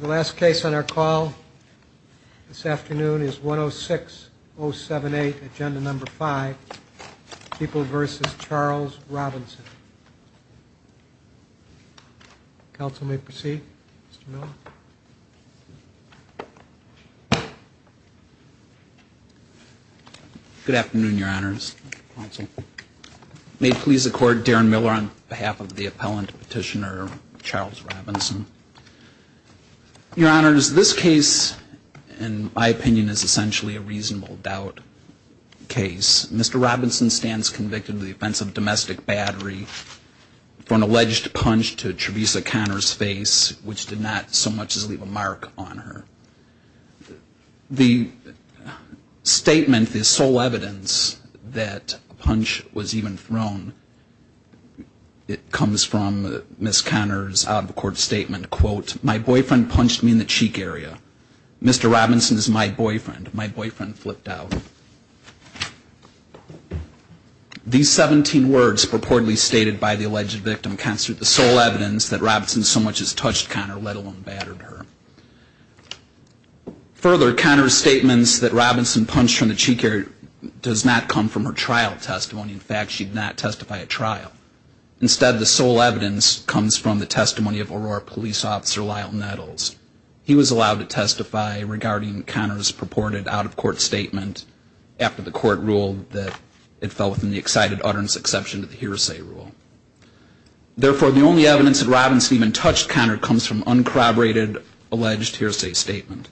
The last case on our call this afternoon is 106078, agenda number 5, People v. Charles Robinson. Counsel may proceed, Mr. Miller. Good afternoon, Your Honors. May it please the Court, Darren Miller on behalf of the appellant petitioner Charles Robinson. Your Honors, this case, in my opinion, is essentially a reasonable doubt case. Mr. Robinson stands convicted of the offense of domestic battery for an alleged punch to Trevisa Conner's face, which did not so much as leave a mark on her. The statement, the sole evidence that a punch was even thrown, it comes from Ms. Conner's out-of-the-court statement, quote, My boyfriend punched me in the cheek area. Mr. Robinson is my boyfriend. My boyfriend flipped out. These 17 words purportedly stated by the alleged victim constitute the sole evidence that Robinson so much as touched Conner, let alone battered her. Further, Conner's statements that Robinson punched her in the cheek area does not come from her trial testimony. In fact, she did not testify at trial. Instead, the sole evidence comes from the testimony of Aurora Police Officer Lyle Nettles. He was allowed to testify regarding Conner's purported out-of-court statement after the court ruled that it fell within the excited utterance exception to the hearsay rule. Therefore, the only evidence that Robinson even touched Conner comes from uncorroborated alleged hearsay statement.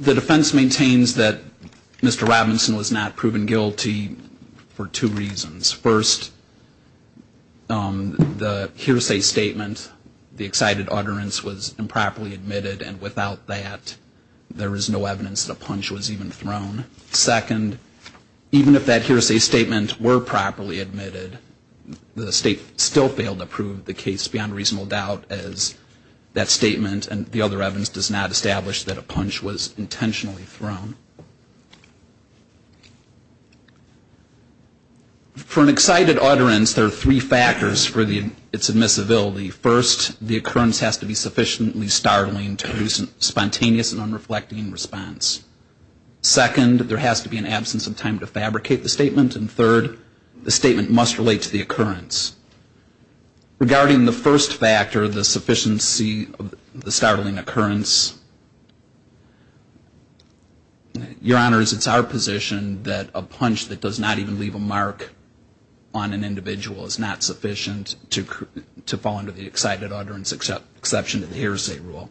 The defense maintains that Mr. Robinson was not proven guilty for two reasons. First, the hearsay statement, the excited utterance, was improperly admitted, and without that, there is no evidence that a punch was even thrown. Second, even if that hearsay statement were properly admitted, the state still failed to prove the case beyond reasonable doubt as that statement and the other evidence does not establish that a punch was intentionally thrown. For an excited utterance, there are three factors for its admissibility. First, the occurrence has to be sufficiently startling to produce a spontaneous and unreflecting response. Second, there has to be an absence of time to fabricate the statement. And third, the statement must relate to the occurrence. Regarding the first factor, the sufficiency of the startling occurrence, Your Honors, it's our position that a punch that does not even leave a mark on an individual is not sufficient to fall under the excited utterance exception to the hearsay rule.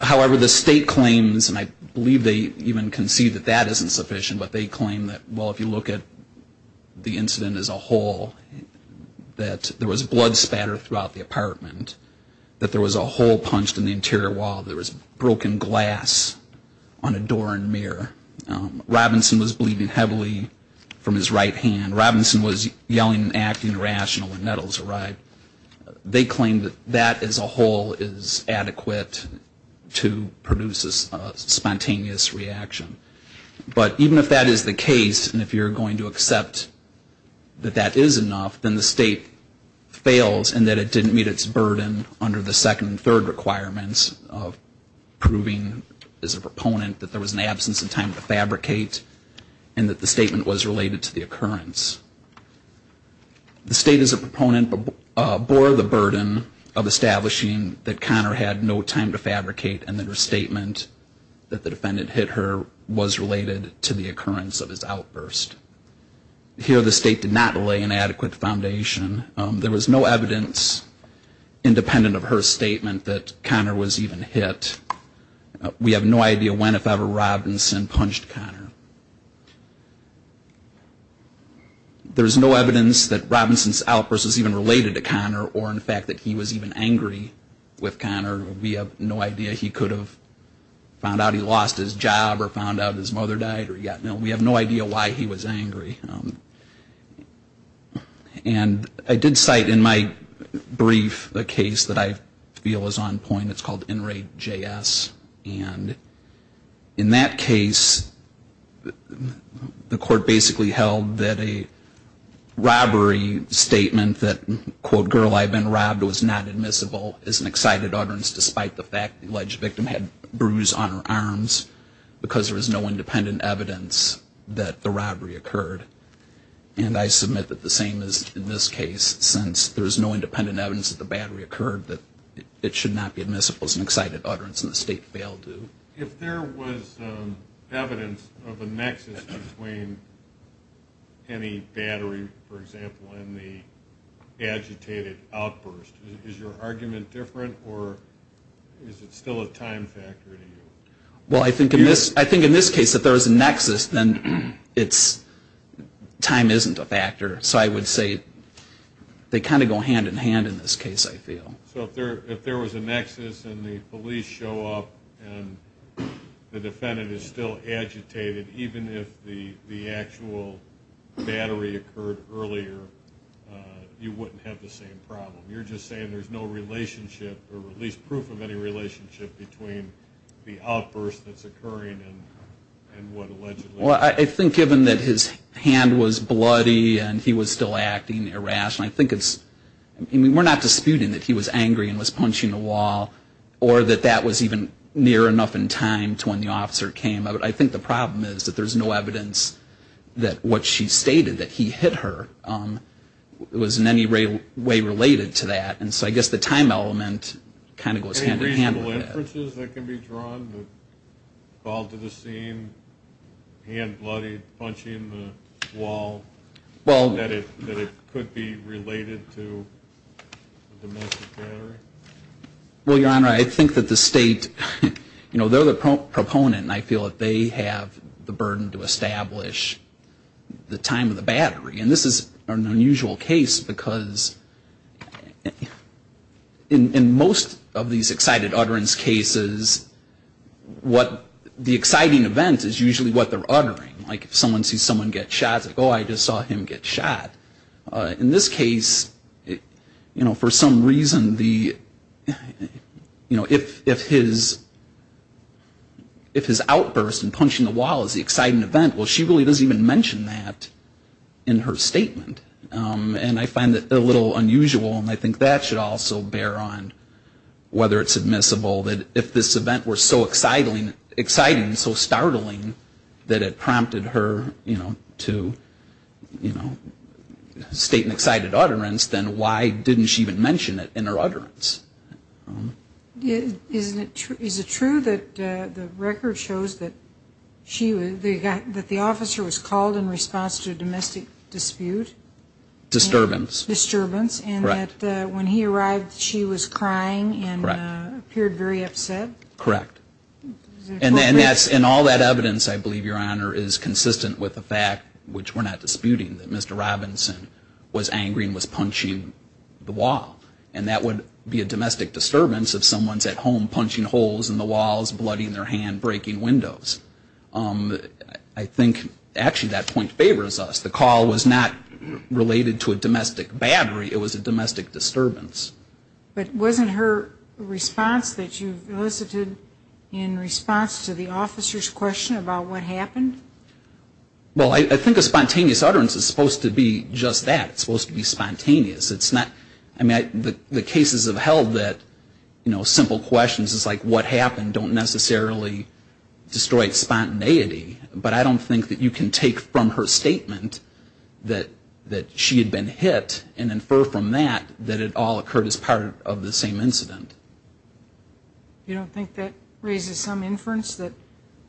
However, the state claims, and I believe they even concede that that isn't sufficient, but they claim that, well, if you look at the incident as a whole, that there was blood spatter throughout the apartment, that there was a hole punched in the interior wall, there was broken glass on a door and mirror. Robinson was bleeding heavily from his right hand. And when Robinson was yelling and acting irrational when Nettles arrived, they claimed that that as a whole is adequate to produce a spontaneous reaction. But even if that is the case, and if you're going to accept that that is enough, then the state fails in that it didn't meet its burden under the second and third requirements of proving as a proponent that there was an absence of time to fabricate and that the statement was related to the occurrence. The state as a proponent bore the burden of establishing that Connor had no time to fabricate and that her statement that the defendant hit her was related to the occurrence of his outburst. Here the state did not lay an adequate foundation. There was no evidence, independent of her statement, that Connor was even hit. We have no idea when, if ever, Robinson punched Connor. There is no evidence that Robinson's outburst was even related to Connor or in fact that he was even angry with Connor. We have no idea. He could have found out he lost his job or found out his mother died. We have no idea why he was angry. And I did cite in my brief the case that I feel is on point. It's called In Re JS. And in that case, the court basically held that a robbery statement that, quote, girl, I've been robbed was not admissible as an excited utterance despite the fact the alleged victim had bruise on her arms because there was no independent evidence that the robbery occurred. And I submit that the same is in this case, since there is no independent evidence that the battery occurred, that it should not be admissible as an excited utterance and the state failed to. If there was evidence of a nexus between any battery, for example, and the agitated outburst, is your argument different or is it still a time factor to you? Well, I think in this case, if there was a nexus, then time isn't a factor. So I would say they kind of go hand in hand in this case, I feel. So if there was a nexus and the police show up and the defendant is still agitated, even if the actual battery occurred earlier, you wouldn't have the same problem. You're just saying there's no relationship, or at least proof of any relationship between the outburst that's occurring and what allegedly occurred. Well, I think given that his hand was bloody and he was still acting irrationally, I think it's, I mean, we're not disputing that he was angry and was punching the wall or that that was even near enough in time to when the officer came. I think the problem is that there's no evidence that what she stated, that he hit her, was in any way related to that. And so I guess the time element kind of goes hand in hand with that. Any reasonable inferences that can be drawn that call to the scene, hand bloody, punching the wall, that it could be related to the domestic battery? Well, Your Honor, I think that the state, you know, they're the proponent, and I feel that they have the burden to establish the time of the battery. And this is an unusual case because in most of these excited utterance cases, what the exciting event is usually what they're uttering. Like if someone sees someone get shot, it's like, oh, I just saw him get shot. In this case, you know, for some reason the, you know, if his outburst and punching the wall is the exciting event, well, she really doesn't even mention that in her statement. And I find that a little unusual, and I think that should also bear on whether it's admissible that if this event was so exciting and so startling that it prompted her, you know, to state an excited utterance, then why didn't she even mention it in her utterance? Is it true that the record shows that the officer was called in response to a domestic dispute? Disturbance. Correct. And that when he arrived, she was crying and appeared very upset? Correct. And all that evidence, I believe, Your Honor, is consistent with the fact, which we're not disputing, that Mr. Robinson was angry and was punching the wall. And that would be a domestic disturbance if someone's at home punching holes in the walls, blooding their hand, breaking windows. I think actually that point favors us. The call was not related to a domestic battery. It was a domestic disturbance. But wasn't her response that you elicited in response to the officer's question about what happened? Well, I think a spontaneous utterance is supposed to be just that. It's supposed to be spontaneous. I mean, the cases of hell that, you know, simple questions is like, what happened don't necessarily destroy spontaneity. But I don't think that you can take from her statement that she had been hit and infer from that that it all occurred as part of the same incident. You don't think that raises some inference that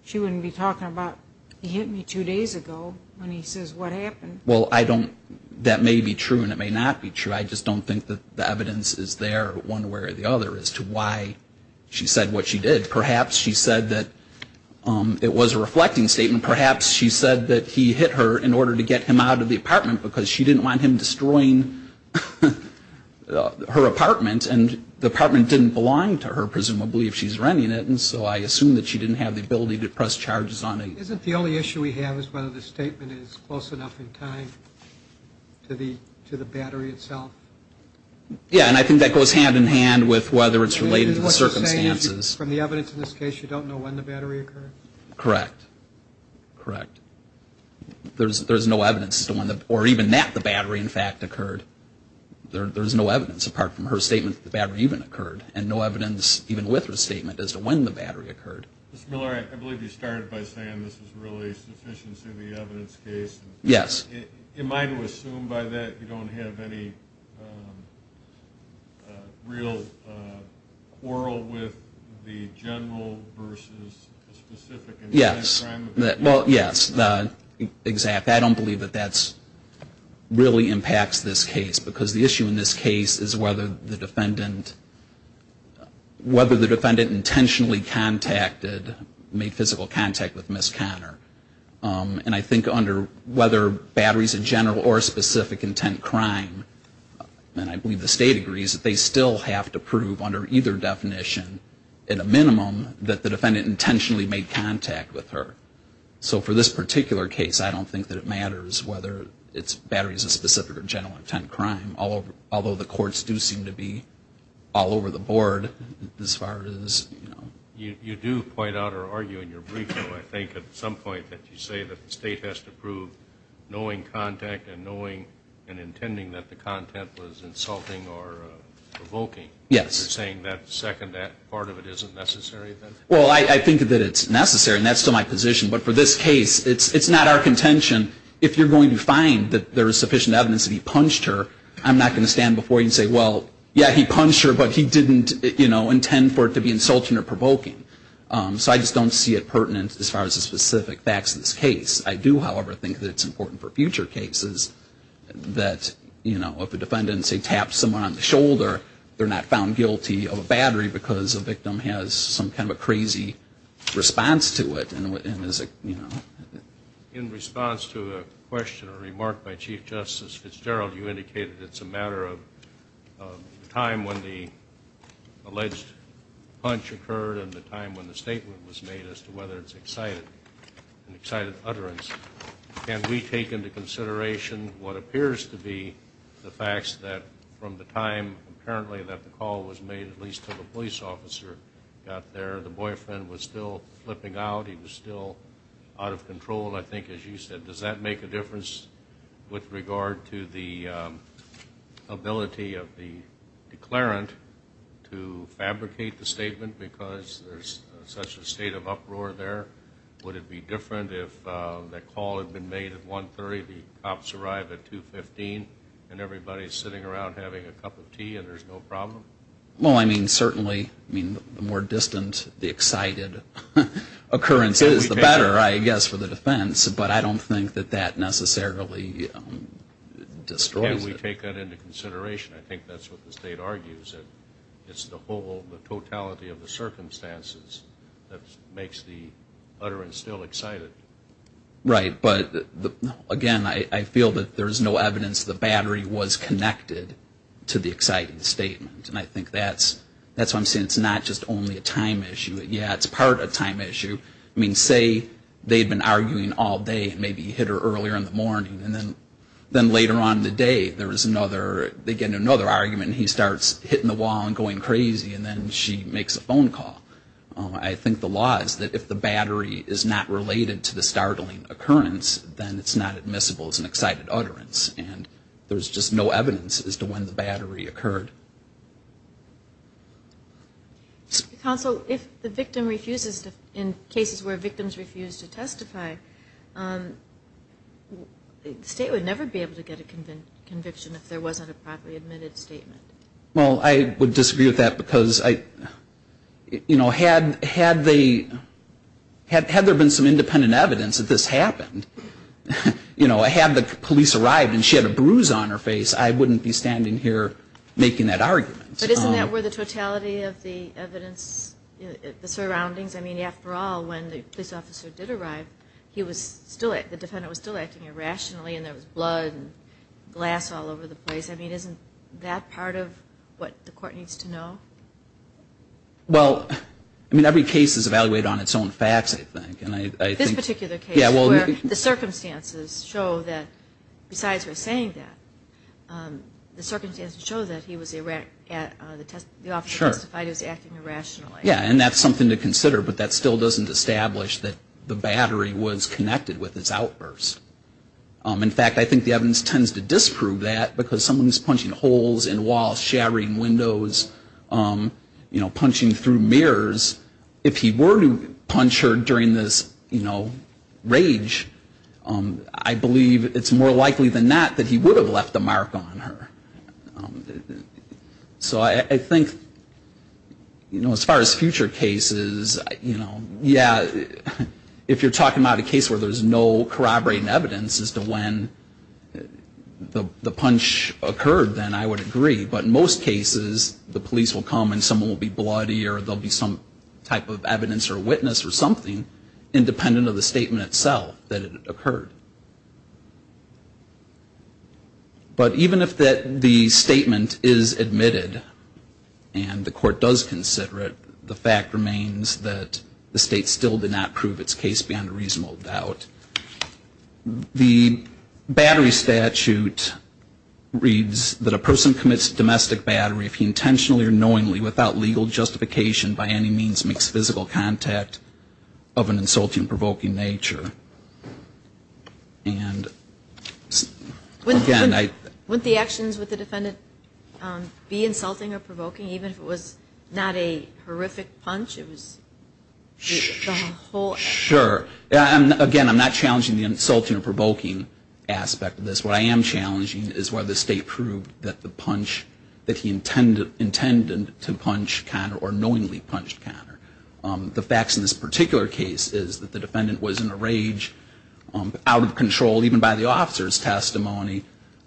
she wouldn't be talking about, he hit me two days ago when he says what happened? Well, I don't – that may be true and it may not be true. I just don't think that the evidence is there one way or the other as to why she said what she did. Perhaps she said that it was a reflecting statement. Perhaps she said that he hit her in order to get him out of the apartment because she didn't want him destroying her apartment. And the apartment didn't belong to her, presumably, if she's renting it. And so I assume that she didn't have the ability to press charges on him. Isn't the only issue we have is whether the statement is close enough in time to the battery itself? Yeah, and I think that goes hand in hand with whether it's related to the circumstances. What you're saying is from the evidence in this case, you don't know when the battery occurred? Correct. Correct. There's no evidence as to when the – or even that the battery, in fact, occurred. There's no evidence apart from her statement that the battery even occurred and no evidence even with her statement as to when the battery occurred. Mr. Miller, I believe you started by saying this is really a sufficiency of the evidence case. Yes. Am I to assume by that you don't have any real quarrel with the general versus the specific? Yes. Well, yes. Exactly. I don't believe that that really impacts this case because the issue in this case is whether the defendant intentionally contacted, made physical contact with Ms. Conner. And I think under whether battery is a general or specific intent crime, and I believe the state agrees, they still have to prove under either definition at a minimum that the defendant intentionally made contact with her. Whether it's battery is a specific or general intent crime, although the courts do seem to be all over the board as far as, you know. You do point out or argue in your brief, though, I think at some point that you say that the state has to prove knowing contact and knowing and intending that the content was insulting or provoking. Yes. You're saying that second part of it isn't necessary then? Well, I think that it's necessary, and that's still my position. But for this case, it's not our contention. If you're going to find that there is sufficient evidence that he punched her, I'm not going to stand before you and say, well, yeah, he punched her, but he didn't, you know, intend for it to be insulting or provoking. So I just don't see it pertinent as far as the specific facts of this case. I do, however, think that it's important for future cases that, you know, if a defendant, say, taps someone on the shoulder, they're not found guilty of a battery because a victim has some kind of a crazy response to it and is, you know. In response to a question or remark by Chief Justice Fitzgerald, you indicated it's a matter of the time when the alleged punch occurred and the time when the statement was made as to whether it's an excited utterance. Can we take into consideration what appears to be the facts that from the time, apparently, that the call was made, at least until the police officer got there, the boyfriend was still flipping out, he was still out of control, I think, as you said. Does that make a difference with regard to the ability of the declarant to fabricate the statement because there's such a state of uproar there? Would it be different if the call had been made at 1.30, the cops arrived at 2.15, and everybody's sitting around having a cup of tea and there's no problem? Well, I mean, certainly. I mean, the more distant the excited occurrence is, the better, I guess, for the defense. But I don't think that that necessarily destroys it. Can we take that into consideration? I think that's what the state argues. It's the whole, the totality of the circumstances that makes the utterance still excited. Right. But, again, I feel that there's no evidence the battery was connected to the excited statement. And I think that's why I'm saying it's not just only a time issue. Yeah, it's part of a time issue. I mean, say they'd been arguing all day, maybe he hit her earlier in the morning, and then later on in the day there was another, they get into another argument, and he starts hitting the wall and going crazy, and then she makes a phone call. I think the law is that if the battery is not related to the startling occurrence, then it's not admissible as an excited utterance. And there's just no evidence as to when the battery occurred. Counsel, if the victim refuses, in cases where victims refuse to testify, the state would never be able to get a conviction if there wasn't a properly admitted statement. Well, I would disagree with that because, you know, had there been some independent evidence that this happened, you know, had the police arrived and she had a bruise on her face, I wouldn't be standing here making that argument. But isn't that where the totality of the evidence, the surroundings, I mean, after all, when the police officer did arrive, he was still, the defendant was still acting irrationally, and there was blood and glass all over the place. I mean, isn't that part of what the court needs to know? Well, I mean, every case is evaluated on its own facts, I think. This particular case, where the circumstances show that, besides her saying that, the circumstances show that he was, the officer testified he was acting irrationally. Yeah, and that's something to consider, but that still doesn't establish that the battery was connected with its outburst. In fact, I think the evidence tends to disprove that because someone who's punching holes in walls, shattering windows, you know, punching through mirrors, if he were to punch her during this, you know, rage, I believe it's more likely than not that he would have left a mark on her. So I think, you know, as far as future cases, you know, yeah, if you're talking about a case where there's no corroborating evidence as to when the punch occurred, then I would agree. But in most cases, the police will come and someone will be bloody or there will be some type of evidence or witness or something, independent of the statement itself that it occurred. But even if the statement is admitted and the court does consider it, the fact remains that the state still did not prove its case beyond a reasonable doubt. The battery statute reads that a person commits domestic battery, if he intentionally or knowingly, without legal justification, by any means makes physical contact of an insulting, provoking nature. And again, I... Wouldn't the actions with the defendant be insulting or provoking, even if it was not a horrific punch? Sure. Again, I'm not challenging the insulting or provoking aspect of this. What I am challenging is whether the state proved that the punch, that he intended to punch Connor or knowingly punched Connor. The facts in this particular case is that the defendant was in a rage, out of control, even by the officer's testimony,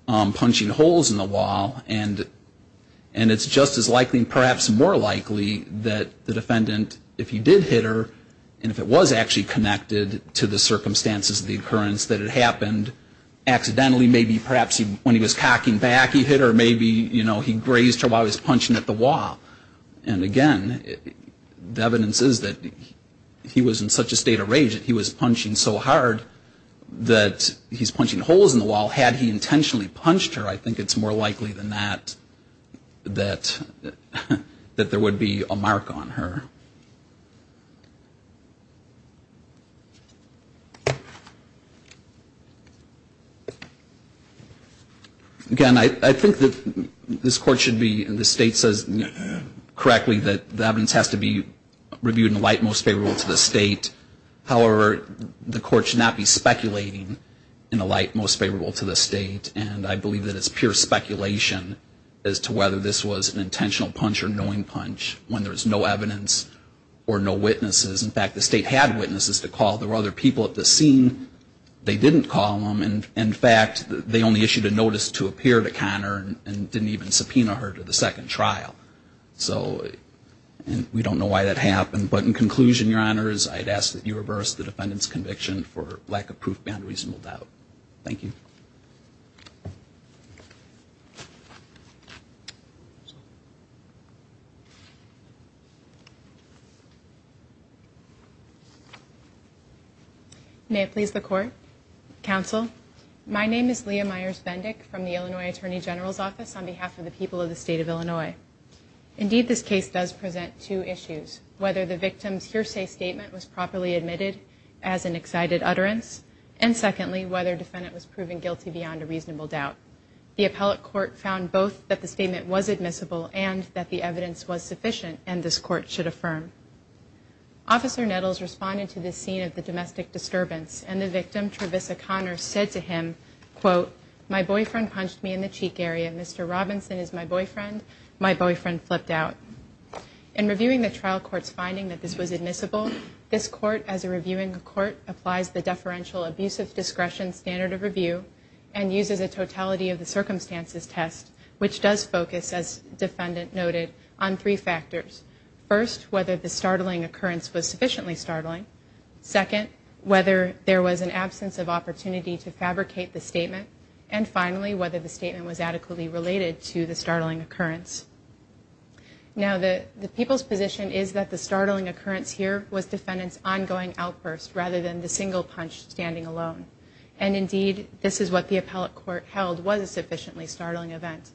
punching holes in the wall. And it's just as likely, perhaps more likely, that the defendant, if he did hit her, and if it was actually connected to the circumstances of the occurrence that it happened, accidentally, maybe perhaps when he was cocking back he hit her, maybe he grazed her while he was punching at the wall. And again, the evidence is that he was in such a state of rage that he was punching so hard that he's punching holes in the wall. Well, had he intentionally punched her, I think it's more likely than not that there would be a mark on her. Again, I think that this Court should be, and the state says correctly, that the evidence has to be reviewed in a light most favorable to the state. However, the Court should not be speculating in a light most favorable to the state. And I believe that it's pure speculation as to whether this was an intentional punch or knowing punch when there's no evidence or no witnesses. In fact, the state had witnesses to call. There were other people at the scene. They didn't call them. In fact, they only issued a notice to appear to Connor and didn't even subpoena her to the second trial. So we don't know why that happened. But in conclusion, Your Honors, I'd ask that you reverse the defendant's conviction for lack of proof beyond reasonable doubt. Thank you. May it please the Court. Counsel, my name is Leah Myers-Bendick from the Illinois Attorney General's Office on behalf of the people of the state of Illinois. Indeed, this case does present two issues. Whether the victim's hearsay statement was properly admitted as an excited utterance, and secondly, whether the defendant was proven guilty beyond a reasonable doubt. The appellate court found both that the statement was admissible and that the evidence was sufficient and this Court should affirm. Officer Nettles responded to this scene of the domestic disturbance, My boyfriend punched me in the cheek area. Mr. Robinson is my boyfriend. My boyfriend flipped out. In reviewing the trial court's finding that this was admissible, this Court, as a reviewing court, applies the deferential abusive discretion standard of review and uses a totality of the circumstances test, which does focus, as defendant noted, on three factors. First, whether the startling occurrence was sufficiently startling. Second, whether there was an absence of opportunity to fabricate the statement. And finally, whether the statement was adequately related to the startling occurrence. Now, the people's position is that the startling occurrence here was defendant's ongoing outburst rather than the single punch standing alone. And indeed, this is what the appellate court held was a sufficiently startling event.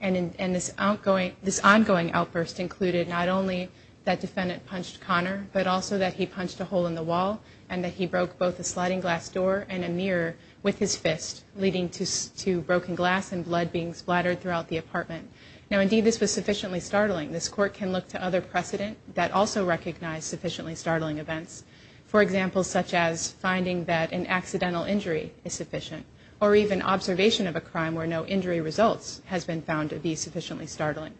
And this ongoing outburst included not only that defendant punched Connor, but also that he punched a hole in the wall and that he broke both a sliding glass door and a mirror with his fist, leading to broken glass and blood being splattered throughout the apartment. Now, indeed, this was sufficiently startling. This Court can look to other precedent that also recognize sufficiently startling events. For example, such as finding that an accidental injury is sufficient or even observation of a crime where no injury results has been found to be sufficiently startling.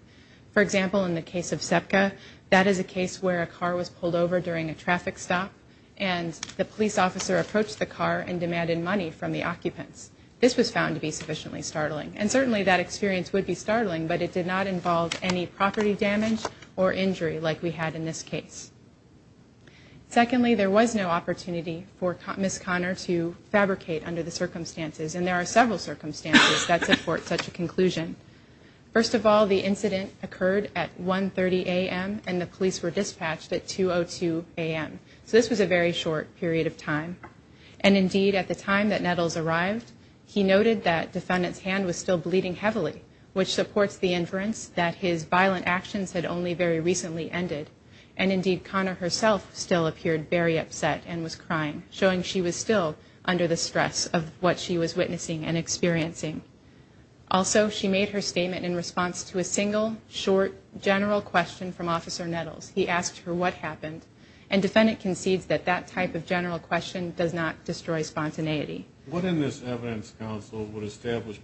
For example, in the case of SEPCA, that is a case where a car was pulled over during a traffic stop and the police officer approached the car and demanded money from the occupants. This was found to be sufficiently startling. And certainly that experience would be startling, but it did not involve any property damage or injury like we had in this case. Secondly, there was no opportunity for Ms. Connor to fabricate under the circumstances. And there are several circumstances that support such a conclusion. First of all, the incident occurred at 1.30 a.m. and the police were dispatched at 2.02 a.m. So this was a very short period of time. And, indeed, at the time that Nettles arrived, he noted that the defendant's hand was still bleeding heavily, which supports the inference that his violent actions had only very recently ended. And, indeed, Connor herself still appeared very upset and was crying, showing she was still under the stress of what she was witnessing and experiencing. Also, she made her statement in response to a single, short, general question from Officer Nettles. He asked her what happened. And defendant concedes that that type of general question does not destroy spontaneity. What in this evidence, counsel, would establish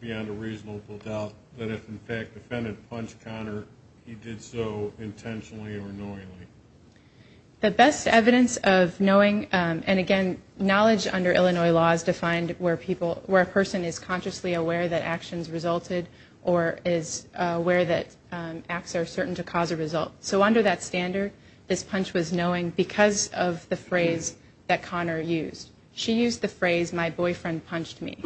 beyond a reasonable doubt that if, in fact, defendant punched Connor, he did so intentionally or knowingly? The best evidence of knowing, and, again, knowledge under Illinois law is defined where a person is consciously aware that actions resulted or is aware that acts are certain to cause a result. So under that standard, this punch was knowing because of the phrase that Connor used. She used the phrase, my boyfriend punched me.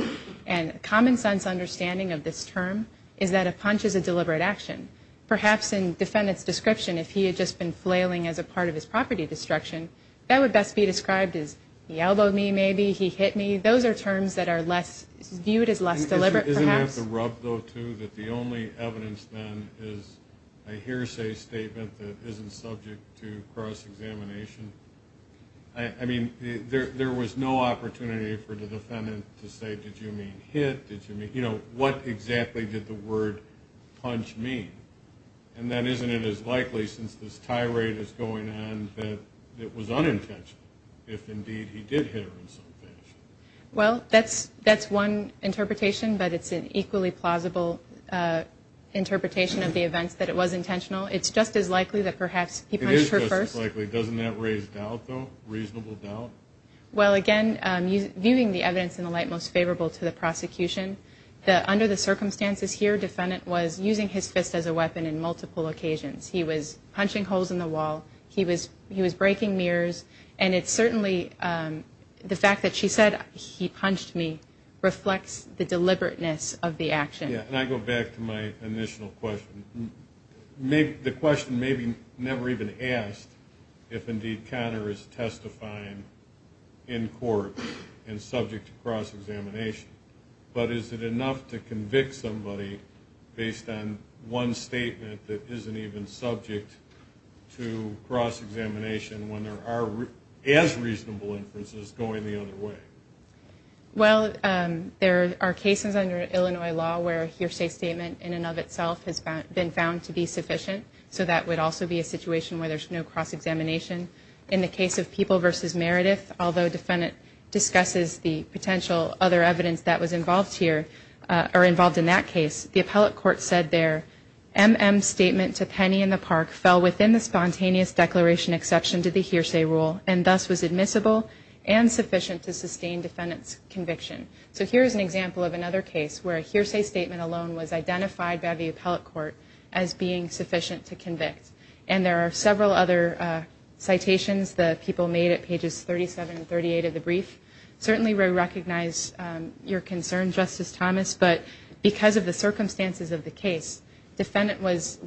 And common sense understanding of this term is that a punch is a deliberate action. Perhaps in defendant's description, if he had just been flailing as a part of his property destruction, that would best be described as he elbowed me maybe, he hit me. Those are terms that are viewed as less deliberate perhaps. Isn't that the rub, though, too, that the only evidence then is a hearsay statement that isn't subject to cross-examination? I mean, there was no opportunity for the defendant to say, did you mean hit, did you mean, you know, what exactly did the word punch mean? And then isn't it as likely, since this tirade is going on, that it was unintentional, if indeed he did hit her in some fashion? Well, that's one interpretation, but it's an equally plausible interpretation of the events that it was intentional. It's just as likely that perhaps he punched her first. It is just as likely. Doesn't that raise doubt, though, reasonable doubt? Well, again, viewing the evidence in the light most favorable to the prosecution, that under the circumstances here, defendant was using his fist as a weapon in multiple occasions. He was punching holes in the wall. He was breaking mirrors. And it's certainly the fact that she said, he punched me, reflects the deliberateness of the action. Yeah, and I go back to my initial question. The question may be never even asked if indeed Connor is testifying in court and subject to cross-examination. But is it enough to convict somebody based on one statement that isn't even subject to cross-examination when there are as reasonable inferences going the other way? Well, there are cases under Illinois law where a hearsay statement in and of itself has been found to be sufficient. So that would also be a situation where there's no cross-examination. In the case of People v. Meredith, although defendant discusses the potential other evidence that was involved here or involved in that case, the appellate court said their MM statement to Penny in the park fell within the spontaneous declaration exception to the hearsay rule and thus was admissible and sufficient to sustain defendant's conviction. So here's an example of another case where a hearsay statement alone was identified by the appellate court as being sufficient to convict. And there are several other citations that people made at pages 37 and 38 of the brief. Certainly we recognize your concern, Justice Thomas, but because of the circumstances of the case, defendant was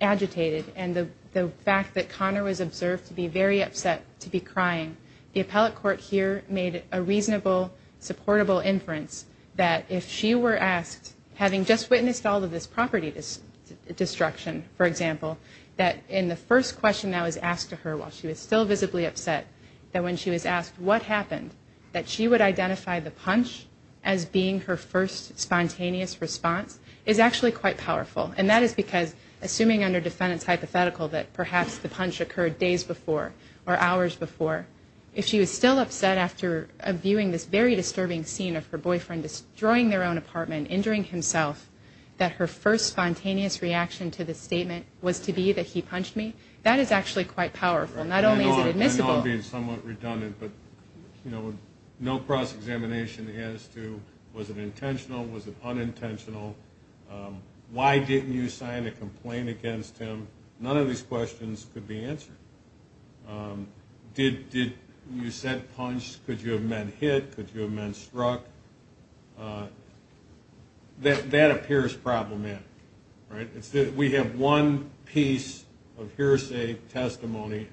agitated and the fact that Connor was observed to be very upset, to be crying, the appellate court here made a reasonable, supportable inference that if she were asked, having just witnessed all of this property destruction, for example, that in the first question that was asked to her while she was still visibly upset, that when she was asked what happened, that she would identify the punch as being her first spontaneous response is actually quite powerful. And that is because, assuming under defendant's hypothetical that perhaps the punch occurred days before or hours before, if she was still upset after viewing this very disturbing scene of her boyfriend destroying their own apartment, injuring himself, that her first spontaneous reaction to the statement was to be that he punched me, that is actually quite powerful. Not only is it admissible. I know I'm being somewhat redundant, but no cross-examination as to was it intentional, was it unintentional, why didn't you sign a complaint against him, none of these questions could be answered. Did you set punch, could you have men hit, could you have men struck, that appears problematic. We have one piece of hearsay, testimony,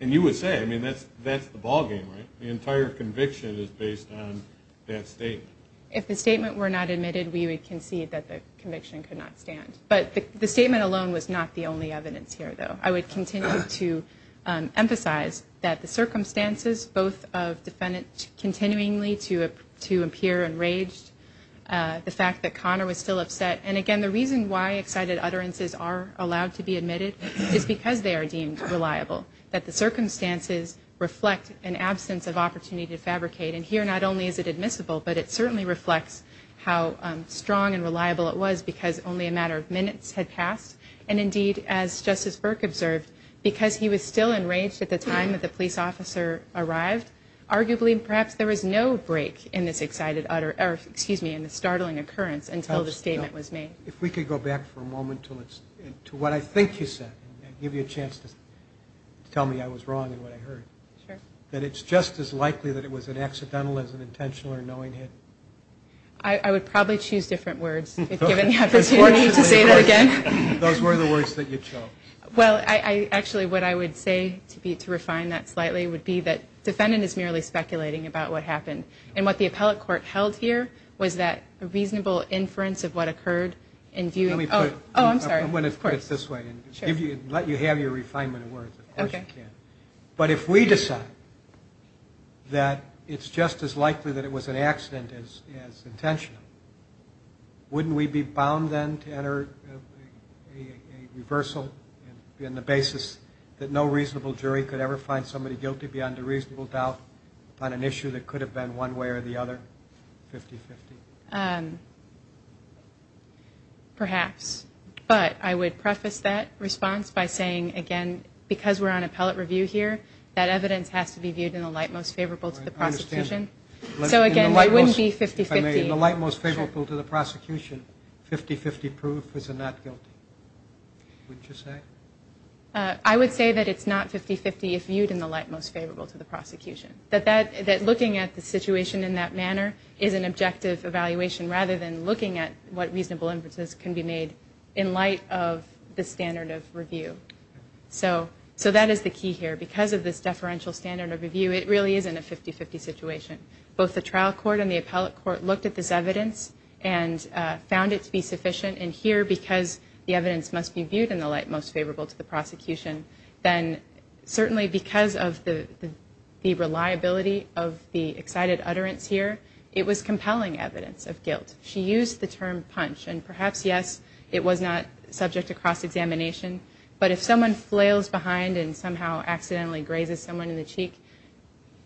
and you would say, I mean, that's the ballgame, right? The entire conviction is based on that statement. If the statement were not admitted, we would concede that the conviction could not stand. But the statement alone was not the only evidence here, though. I would continue to emphasize that the circumstances, both of defendants continually to appear enraged, the fact that Connor was still upset, and again, the reason why excited utterances are allowed to be admitted is because they are deemed reliable, that the circumstances reflect an absence of opportunity to fabricate. And here, not only is it admissible, but it certainly reflects how strong and reliable it was because only a matter of minutes had passed, and indeed, as Justice Burke observed, because he was still enraged at the time that the police officer arrived, arguably, perhaps there was no break in this excited utterance, or excuse me, in this startling occurrence until the statement was made. If we could go back for a moment to what I think you said, and give you a chance to tell me I was wrong in what I heard, that it's just as likely that it was an accidental as an intentional or knowing hit? I would probably choose different words, if given the opportunity to say that again. Those were the words that you chose. Well, actually, what I would say, to refine that slightly, would be that defendant is merely speculating about what happened, and what the appellate court held here was that a reasonable inference of what occurred in view of... Oh, I'm sorry. I'm going to put it this way, and let you have your refinement of words, of course you can. But if we decide that it's just as likely that it was an accident as intentional, wouldn't we be bound then to enter a reversal in the basis that no reasonable jury could ever find somebody guilty beyond a reasonable doubt on an issue that could have been one way or the other, 50-50? Perhaps. But I would preface that response by saying, again, that because we're on appellate review here, that evidence has to be viewed in the light most favorable to the prosecution. So again, it wouldn't be 50-50. In the light most favorable to the prosecution, 50-50 proof is a not guilty, wouldn't you say? I would say that it's not 50-50 if viewed in the light most favorable to the prosecution, that looking at the situation in that manner is an objective evaluation rather than looking at what reasonable inferences can be made in light of the standard of review. So that is the key here. Because of this deferential standard of review, it really isn't a 50-50 situation. Both the trial court and the appellate court looked at this evidence and found it to be sufficient. And here, because the evidence must be viewed in the light most favorable to the prosecution, then certainly because of the reliability of the excited utterance here, it was compelling evidence of guilt. She used the term punch. And perhaps, yes, it was not subject to cross-examination. But if someone flails behind and somehow accidentally grazes someone in the cheek,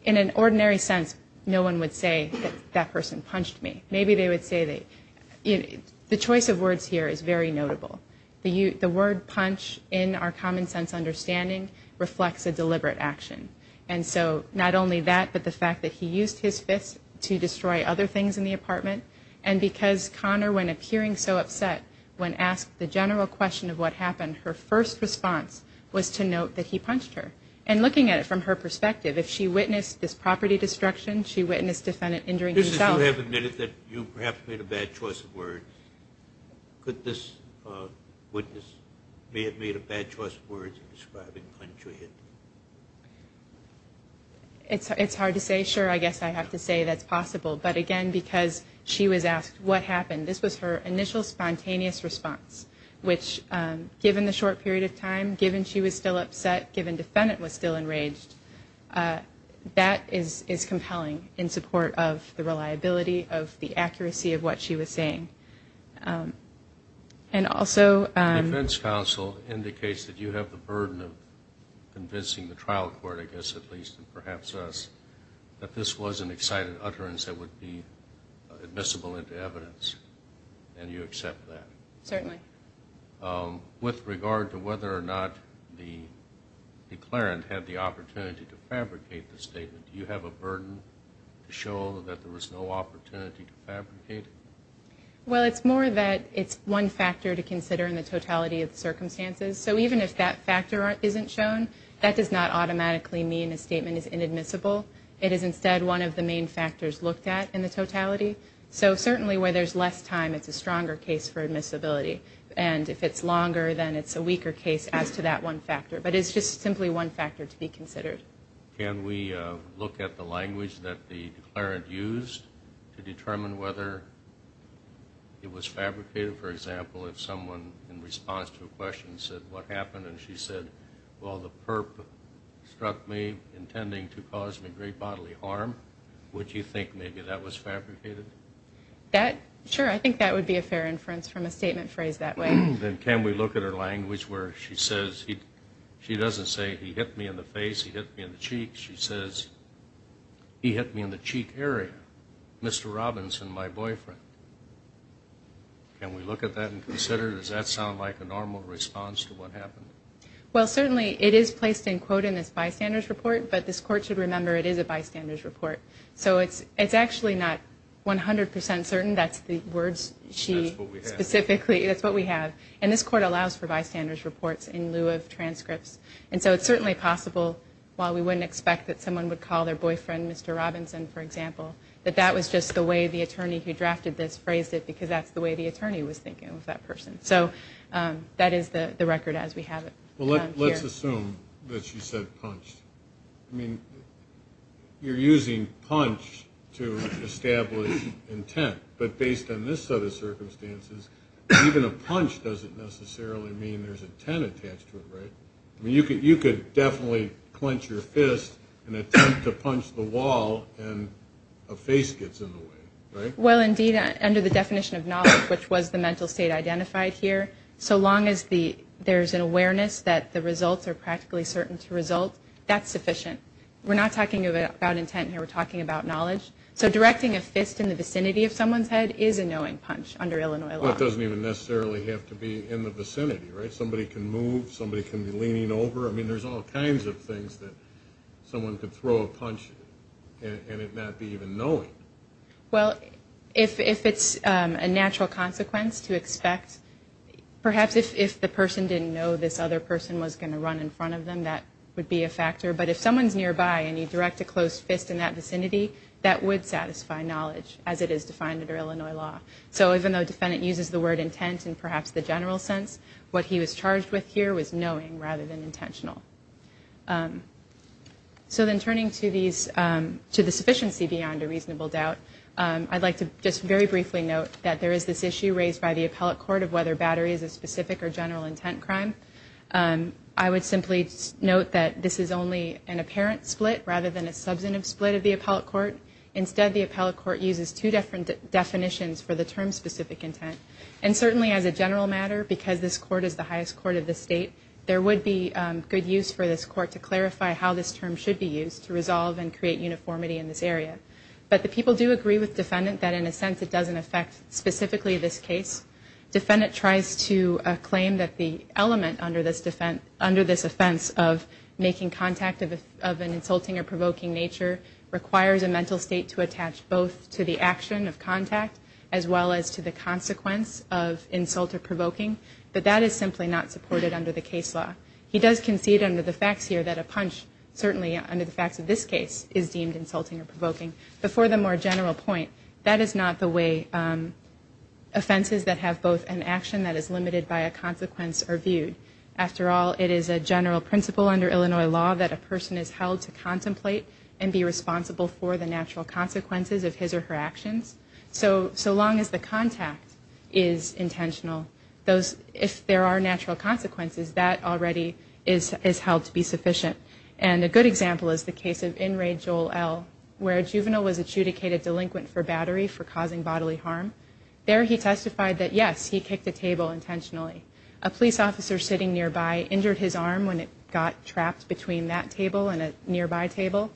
in an ordinary sense, no one would say that that person punched me. Maybe they would say they... The choice of words here is very notable. The word punch, in our common sense understanding, reflects a deliberate action. And so not only that, but the fact that he used his fist to destroy other things in the apartment, and because Connor, when appearing so upset, when asked the general question of what happened, her first response was to note that he punched her. And looking at it from her perspective, if she witnessed this property destruction, she witnessed the defendant injuring himself... You have admitted that you perhaps made a bad choice of words. Could this witness have made a bad choice of words in describing punch or hit? It's hard to say. Sure, I guess I have to say that's possible. But again, because she was asked what happened, this was her initial spontaneous response, which, given the short period of time, given she was still upset, given the defendant was still enraged, that is compelling in support of the reliability of the accuracy of what she was saying. And also... The defense counsel indicates that you have the burden of convincing the trial court, I guess at least, and perhaps us, that this was an excited utterance that would be admissible into evidence, and you accept that. Certainly. With regard to whether or not the declarant had the opportunity to fabricate the statement, do you have a burden to show that there was no opportunity to fabricate it? Well, it's more that it's one factor to consider in the totality of the circumstances. So even if that factor isn't shown, that does not automatically mean a statement is inadmissible. It is instead one of the main factors looked at in the totality. So certainly where there's less time, it's a stronger case for admissibility. And if it's longer, then it's a weaker case as to that one factor. But it's just simply one factor to be considered. Can we look at the language that the declarant used to determine whether it was fabricated? Say, for example, if someone in response to a question said, what happened, and she said, well, the perp struck me intending to cause me great bodily harm, would you think maybe that was fabricated? Sure, I think that would be a fair inference from a statement phrased that way. Then can we look at her language where she says, she doesn't say, he hit me in the face, he hit me in the cheeks. She says, he hit me in the cheek area. Mr. Robinson, my boyfriend. Can we look at that and consider? Does that sound like a normal response to what happened? Well, certainly it is placed in quote in this bystander's report, but this Court should remember it is a bystander's report. So it's actually not 100% certain. That's the words she specifically, that's what we have. And this Court allows for bystander's reports in lieu of transcripts. And so it's certainly possible, while we wouldn't expect that someone would call their boyfriend Mr. Robinson, for example, that that was just the way the attorney who drafted this phrased it, because that's the way the attorney was thinking of that person. So that is the record as we have it here. Well, let's assume that she said punch. I mean, you're using punch to establish intent. But based on this set of circumstances, even a punch doesn't necessarily mean there's intent attached to it, right? I mean, you could definitely clench your fist and attempt to punch the wall and a face gets in the way, right? Well, indeed, under the definition of knowledge, which was the mental state identified here, so long as there's an awareness that the results are practically certain to result, that's sufficient. We're not talking about intent here. We're talking about knowledge. So directing a fist in the vicinity of someone's head is a knowing punch under Illinois law. Well, it doesn't even necessarily have to be in the vicinity, right? Somebody can move. Somebody can be leaning over. I mean, there's all kinds of things that someone could throw a punch and it not be even knowing. Well, if it's a natural consequence to expect, perhaps if the person didn't know this other person was going to run in front of them, that would be a factor. But if someone's nearby and you direct a close fist in that vicinity, that would satisfy knowledge as it is defined under Illinois law. So even though a defendant uses the word intent in perhaps the general sense, what he was charged with here was knowing rather than intentional. So then turning to the sufficiency beyond a reasonable doubt, I'd like to just very briefly note that there is this issue raised by the appellate court of whether battery is a specific or general intent crime. I would simply note that this is only an apparent split rather than a substantive split of the appellate court. Instead, the appellate court uses two different definitions for the term specific intent. And certainly as a general matter, because this court is the highest court of the state, there would be good use for this court to clarify how this term should be used to resolve and create uniformity in this area. But the people do agree with defendant that in a sense it doesn't affect specifically this case. Defendant tries to claim that the element under this offense of making contact of an insulting or provoking nature requires a mental state to attach both to the action of contact as well as to the consequence of insult or provoking, but that is simply not supported under the case law. He does concede under the facts here that a punch, certainly under the facts of this case, is deemed insulting or provoking. But for the more general point, that is not the way offenses that have both an action that is limited by a consequence are viewed. After all, it is a general principle under Illinois law that a person is held to contemplate and be responsible for the natural consequences of his or her actions. So long as the contact is intentional, if there are natural consequences, that already is held to be sufficient. And a good example is the case of in raid Joel L. where a juvenile was adjudicated delinquent for battery for causing bodily harm. There he testified that yes, he kicked a table intentionally. A police officer sitting nearby injured his arm when it got trapped between that table and a nearby table.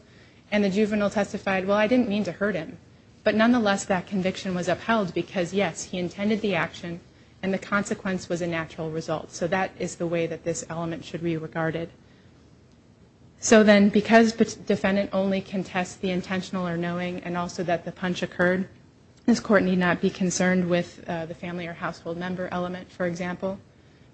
And the juvenile testified, well, I didn't mean to hurt him. But nonetheless, that conviction was upheld because yes, he intended the action and the consequence was a natural result. So that is the way that this element should be regarded. So then because the defendant only contests the intentional or knowing and also that the punch occurred, this Court need not be concerned with the family or household member element, for example.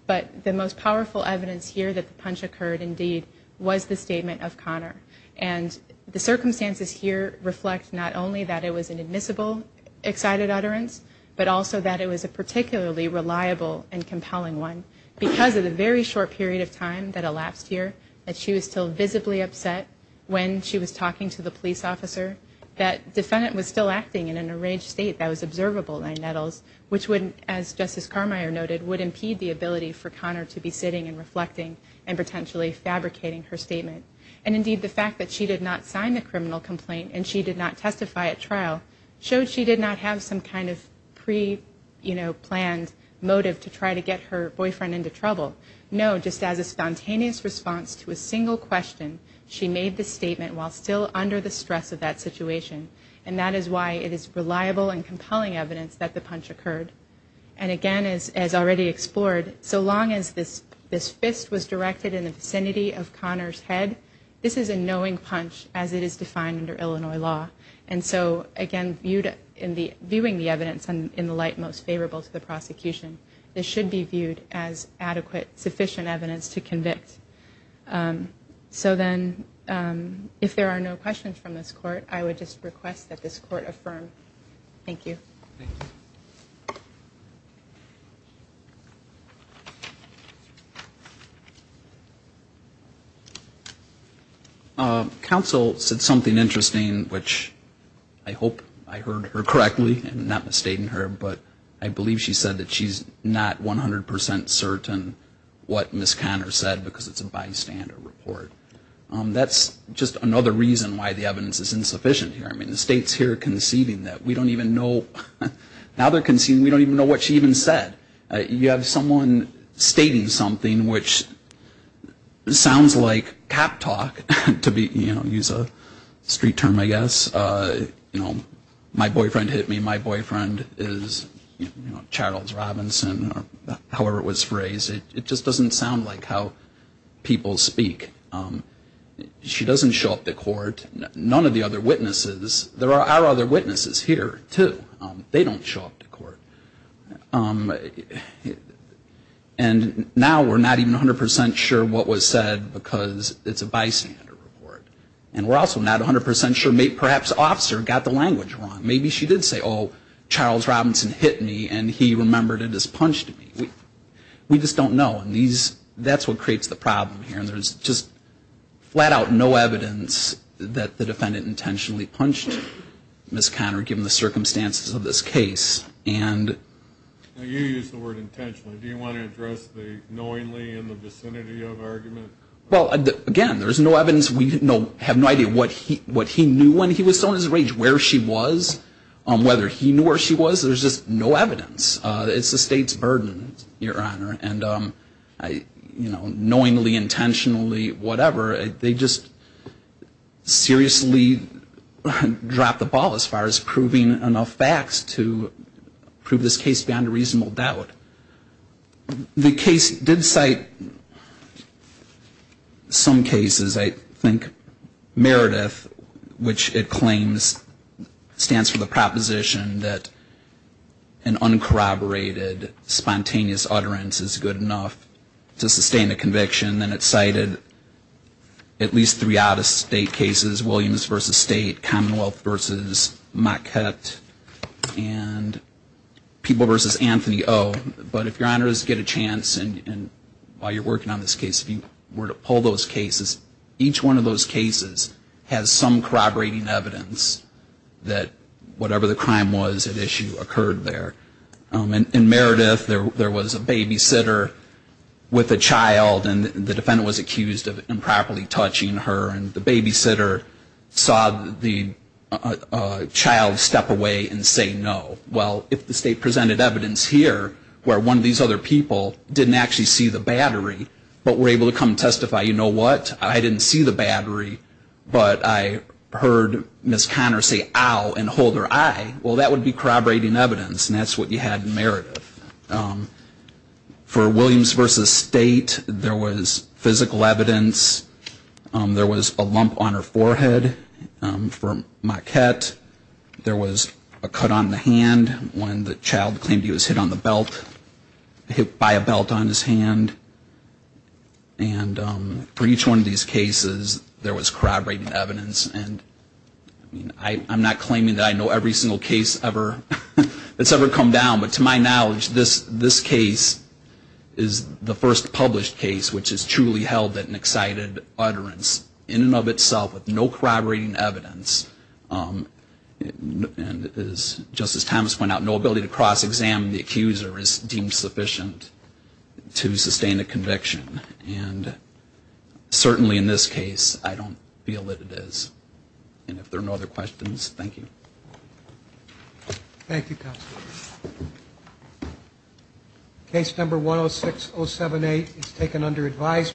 But the most powerful evidence here that the punch occurred indeed was the statement of Connor. And the circumstances here reflect not only that it was an admissible excited utterance, but also that it was a particularly reliable and compelling one. Because of the very short period of time that elapsed here, that she was still visibly upset when she was talking to the police officer, that defendant was still acting in an enraged state that was observable by Nettles, which wouldn't, as Justice Carmeier noted, would impede the ability for Connor to be sitting and reflecting and potentially fabricating her statement. And indeed the fact that she did not sign the criminal complaint and she did not testify at trial showed she did not have some kind of pre-planned motive to try to get her boyfriend into trouble. No, just as a spontaneous response to a single question, she made the statement while still under the stress of that situation. And that is why it is reliable and compelling evidence that the punch occurred. And again, as already explored, so long as this fist was directed in the vicinity of Connor's head, this is a knowing punch as it is defined under Illinois law. And so again, viewing the evidence in the light most favorable to the prosecution, this should be viewed as adequate, sufficient evidence to convict. So then if there are no questions from this court, I would just request that this court affirm. Thank you. Thank you. Counsel said something interesting, which I hope I heard her correctly, I'm not mistaking her, but I believe she said that she's not 100% certain what Ms. Connor said because it's a bystander report. That's just another reason why the evidence is insufficient here. I mean, the state's here conceiving that. We don't even know. Now they're conceiving we don't even know what she even said. You have someone stating something which sounds like cap talk, to use a street term, I guess. My boyfriend hit me. My boyfriend is Charles Robinson or however it was phrased. It just doesn't sound like how people speak. She doesn't show up to court. None of the other witnesses. There are other witnesses here, too. They don't show up to court. And now we're not even 100% sure what was said because it's a bystander report. And we're also not 100% sure. Perhaps the officer got the language wrong. Maybe she did say, oh, Charles Robinson hit me, and he remembered and just punched me. We just don't know. And that's what creates the problem here. There's just flat out no evidence that the defendant intentionally punched Ms. Conner given the circumstances of this case. You used the word intentionally. Do you want to address the knowingly in the vicinity of argument? Well, again, there's no evidence. We have no idea what he knew when he was so in his rage, where she was, whether he knew where she was. There's just no evidence. It's the state's burden, Your Honor. And, you know, knowingly, intentionally, whatever, they just seriously dropped the ball as far as proving enough facts to prove this case beyond a reasonable doubt. The case did cite some cases. I think Meredith, which it claims stands for the proposition that an argument is good enough to sustain a conviction. And it cited at least three out-of-state cases, Williams v. State, Commonwealth v. Maquette, and People v. Anthony O. But if Your Honors get a chance, and while you're working on this case, if you were to pull those cases, each one of those cases has some corroborating evidence that whatever the crime was at issue occurred there. In Meredith, there was a babysitter with a child, and the defendant was accused of improperly touching her, and the babysitter saw the child step away and say no. Well, if the state presented evidence here where one of these other people didn't actually see the battery but were able to come testify, you know what, I didn't see the battery, but I heard Ms. Conner say ow and hold her eye, well, that would be corroborating evidence, and that's what you had in Meredith. For Williams v. State, there was physical evidence. There was a lump on her forehead. For Maquette, there was a cut on the hand when the child claimed he was hit on the belt, hit by a belt on his hand. And for each one of these cases, there was corroborating evidence. And I'm not claiming that I know every single case that's ever come down, but to my knowledge, this case is the first published case which has truly held an excited utterance in and of itself with no corroborating evidence. And as Justice Thomas pointed out, no ability to cross-examine the accuser is deemed sufficient to sustain a conviction. And certainly in this case, I don't feel that it is. And if there are no other questions, thank you. Thank you, counsel. Case number 106078 is taken under advisory.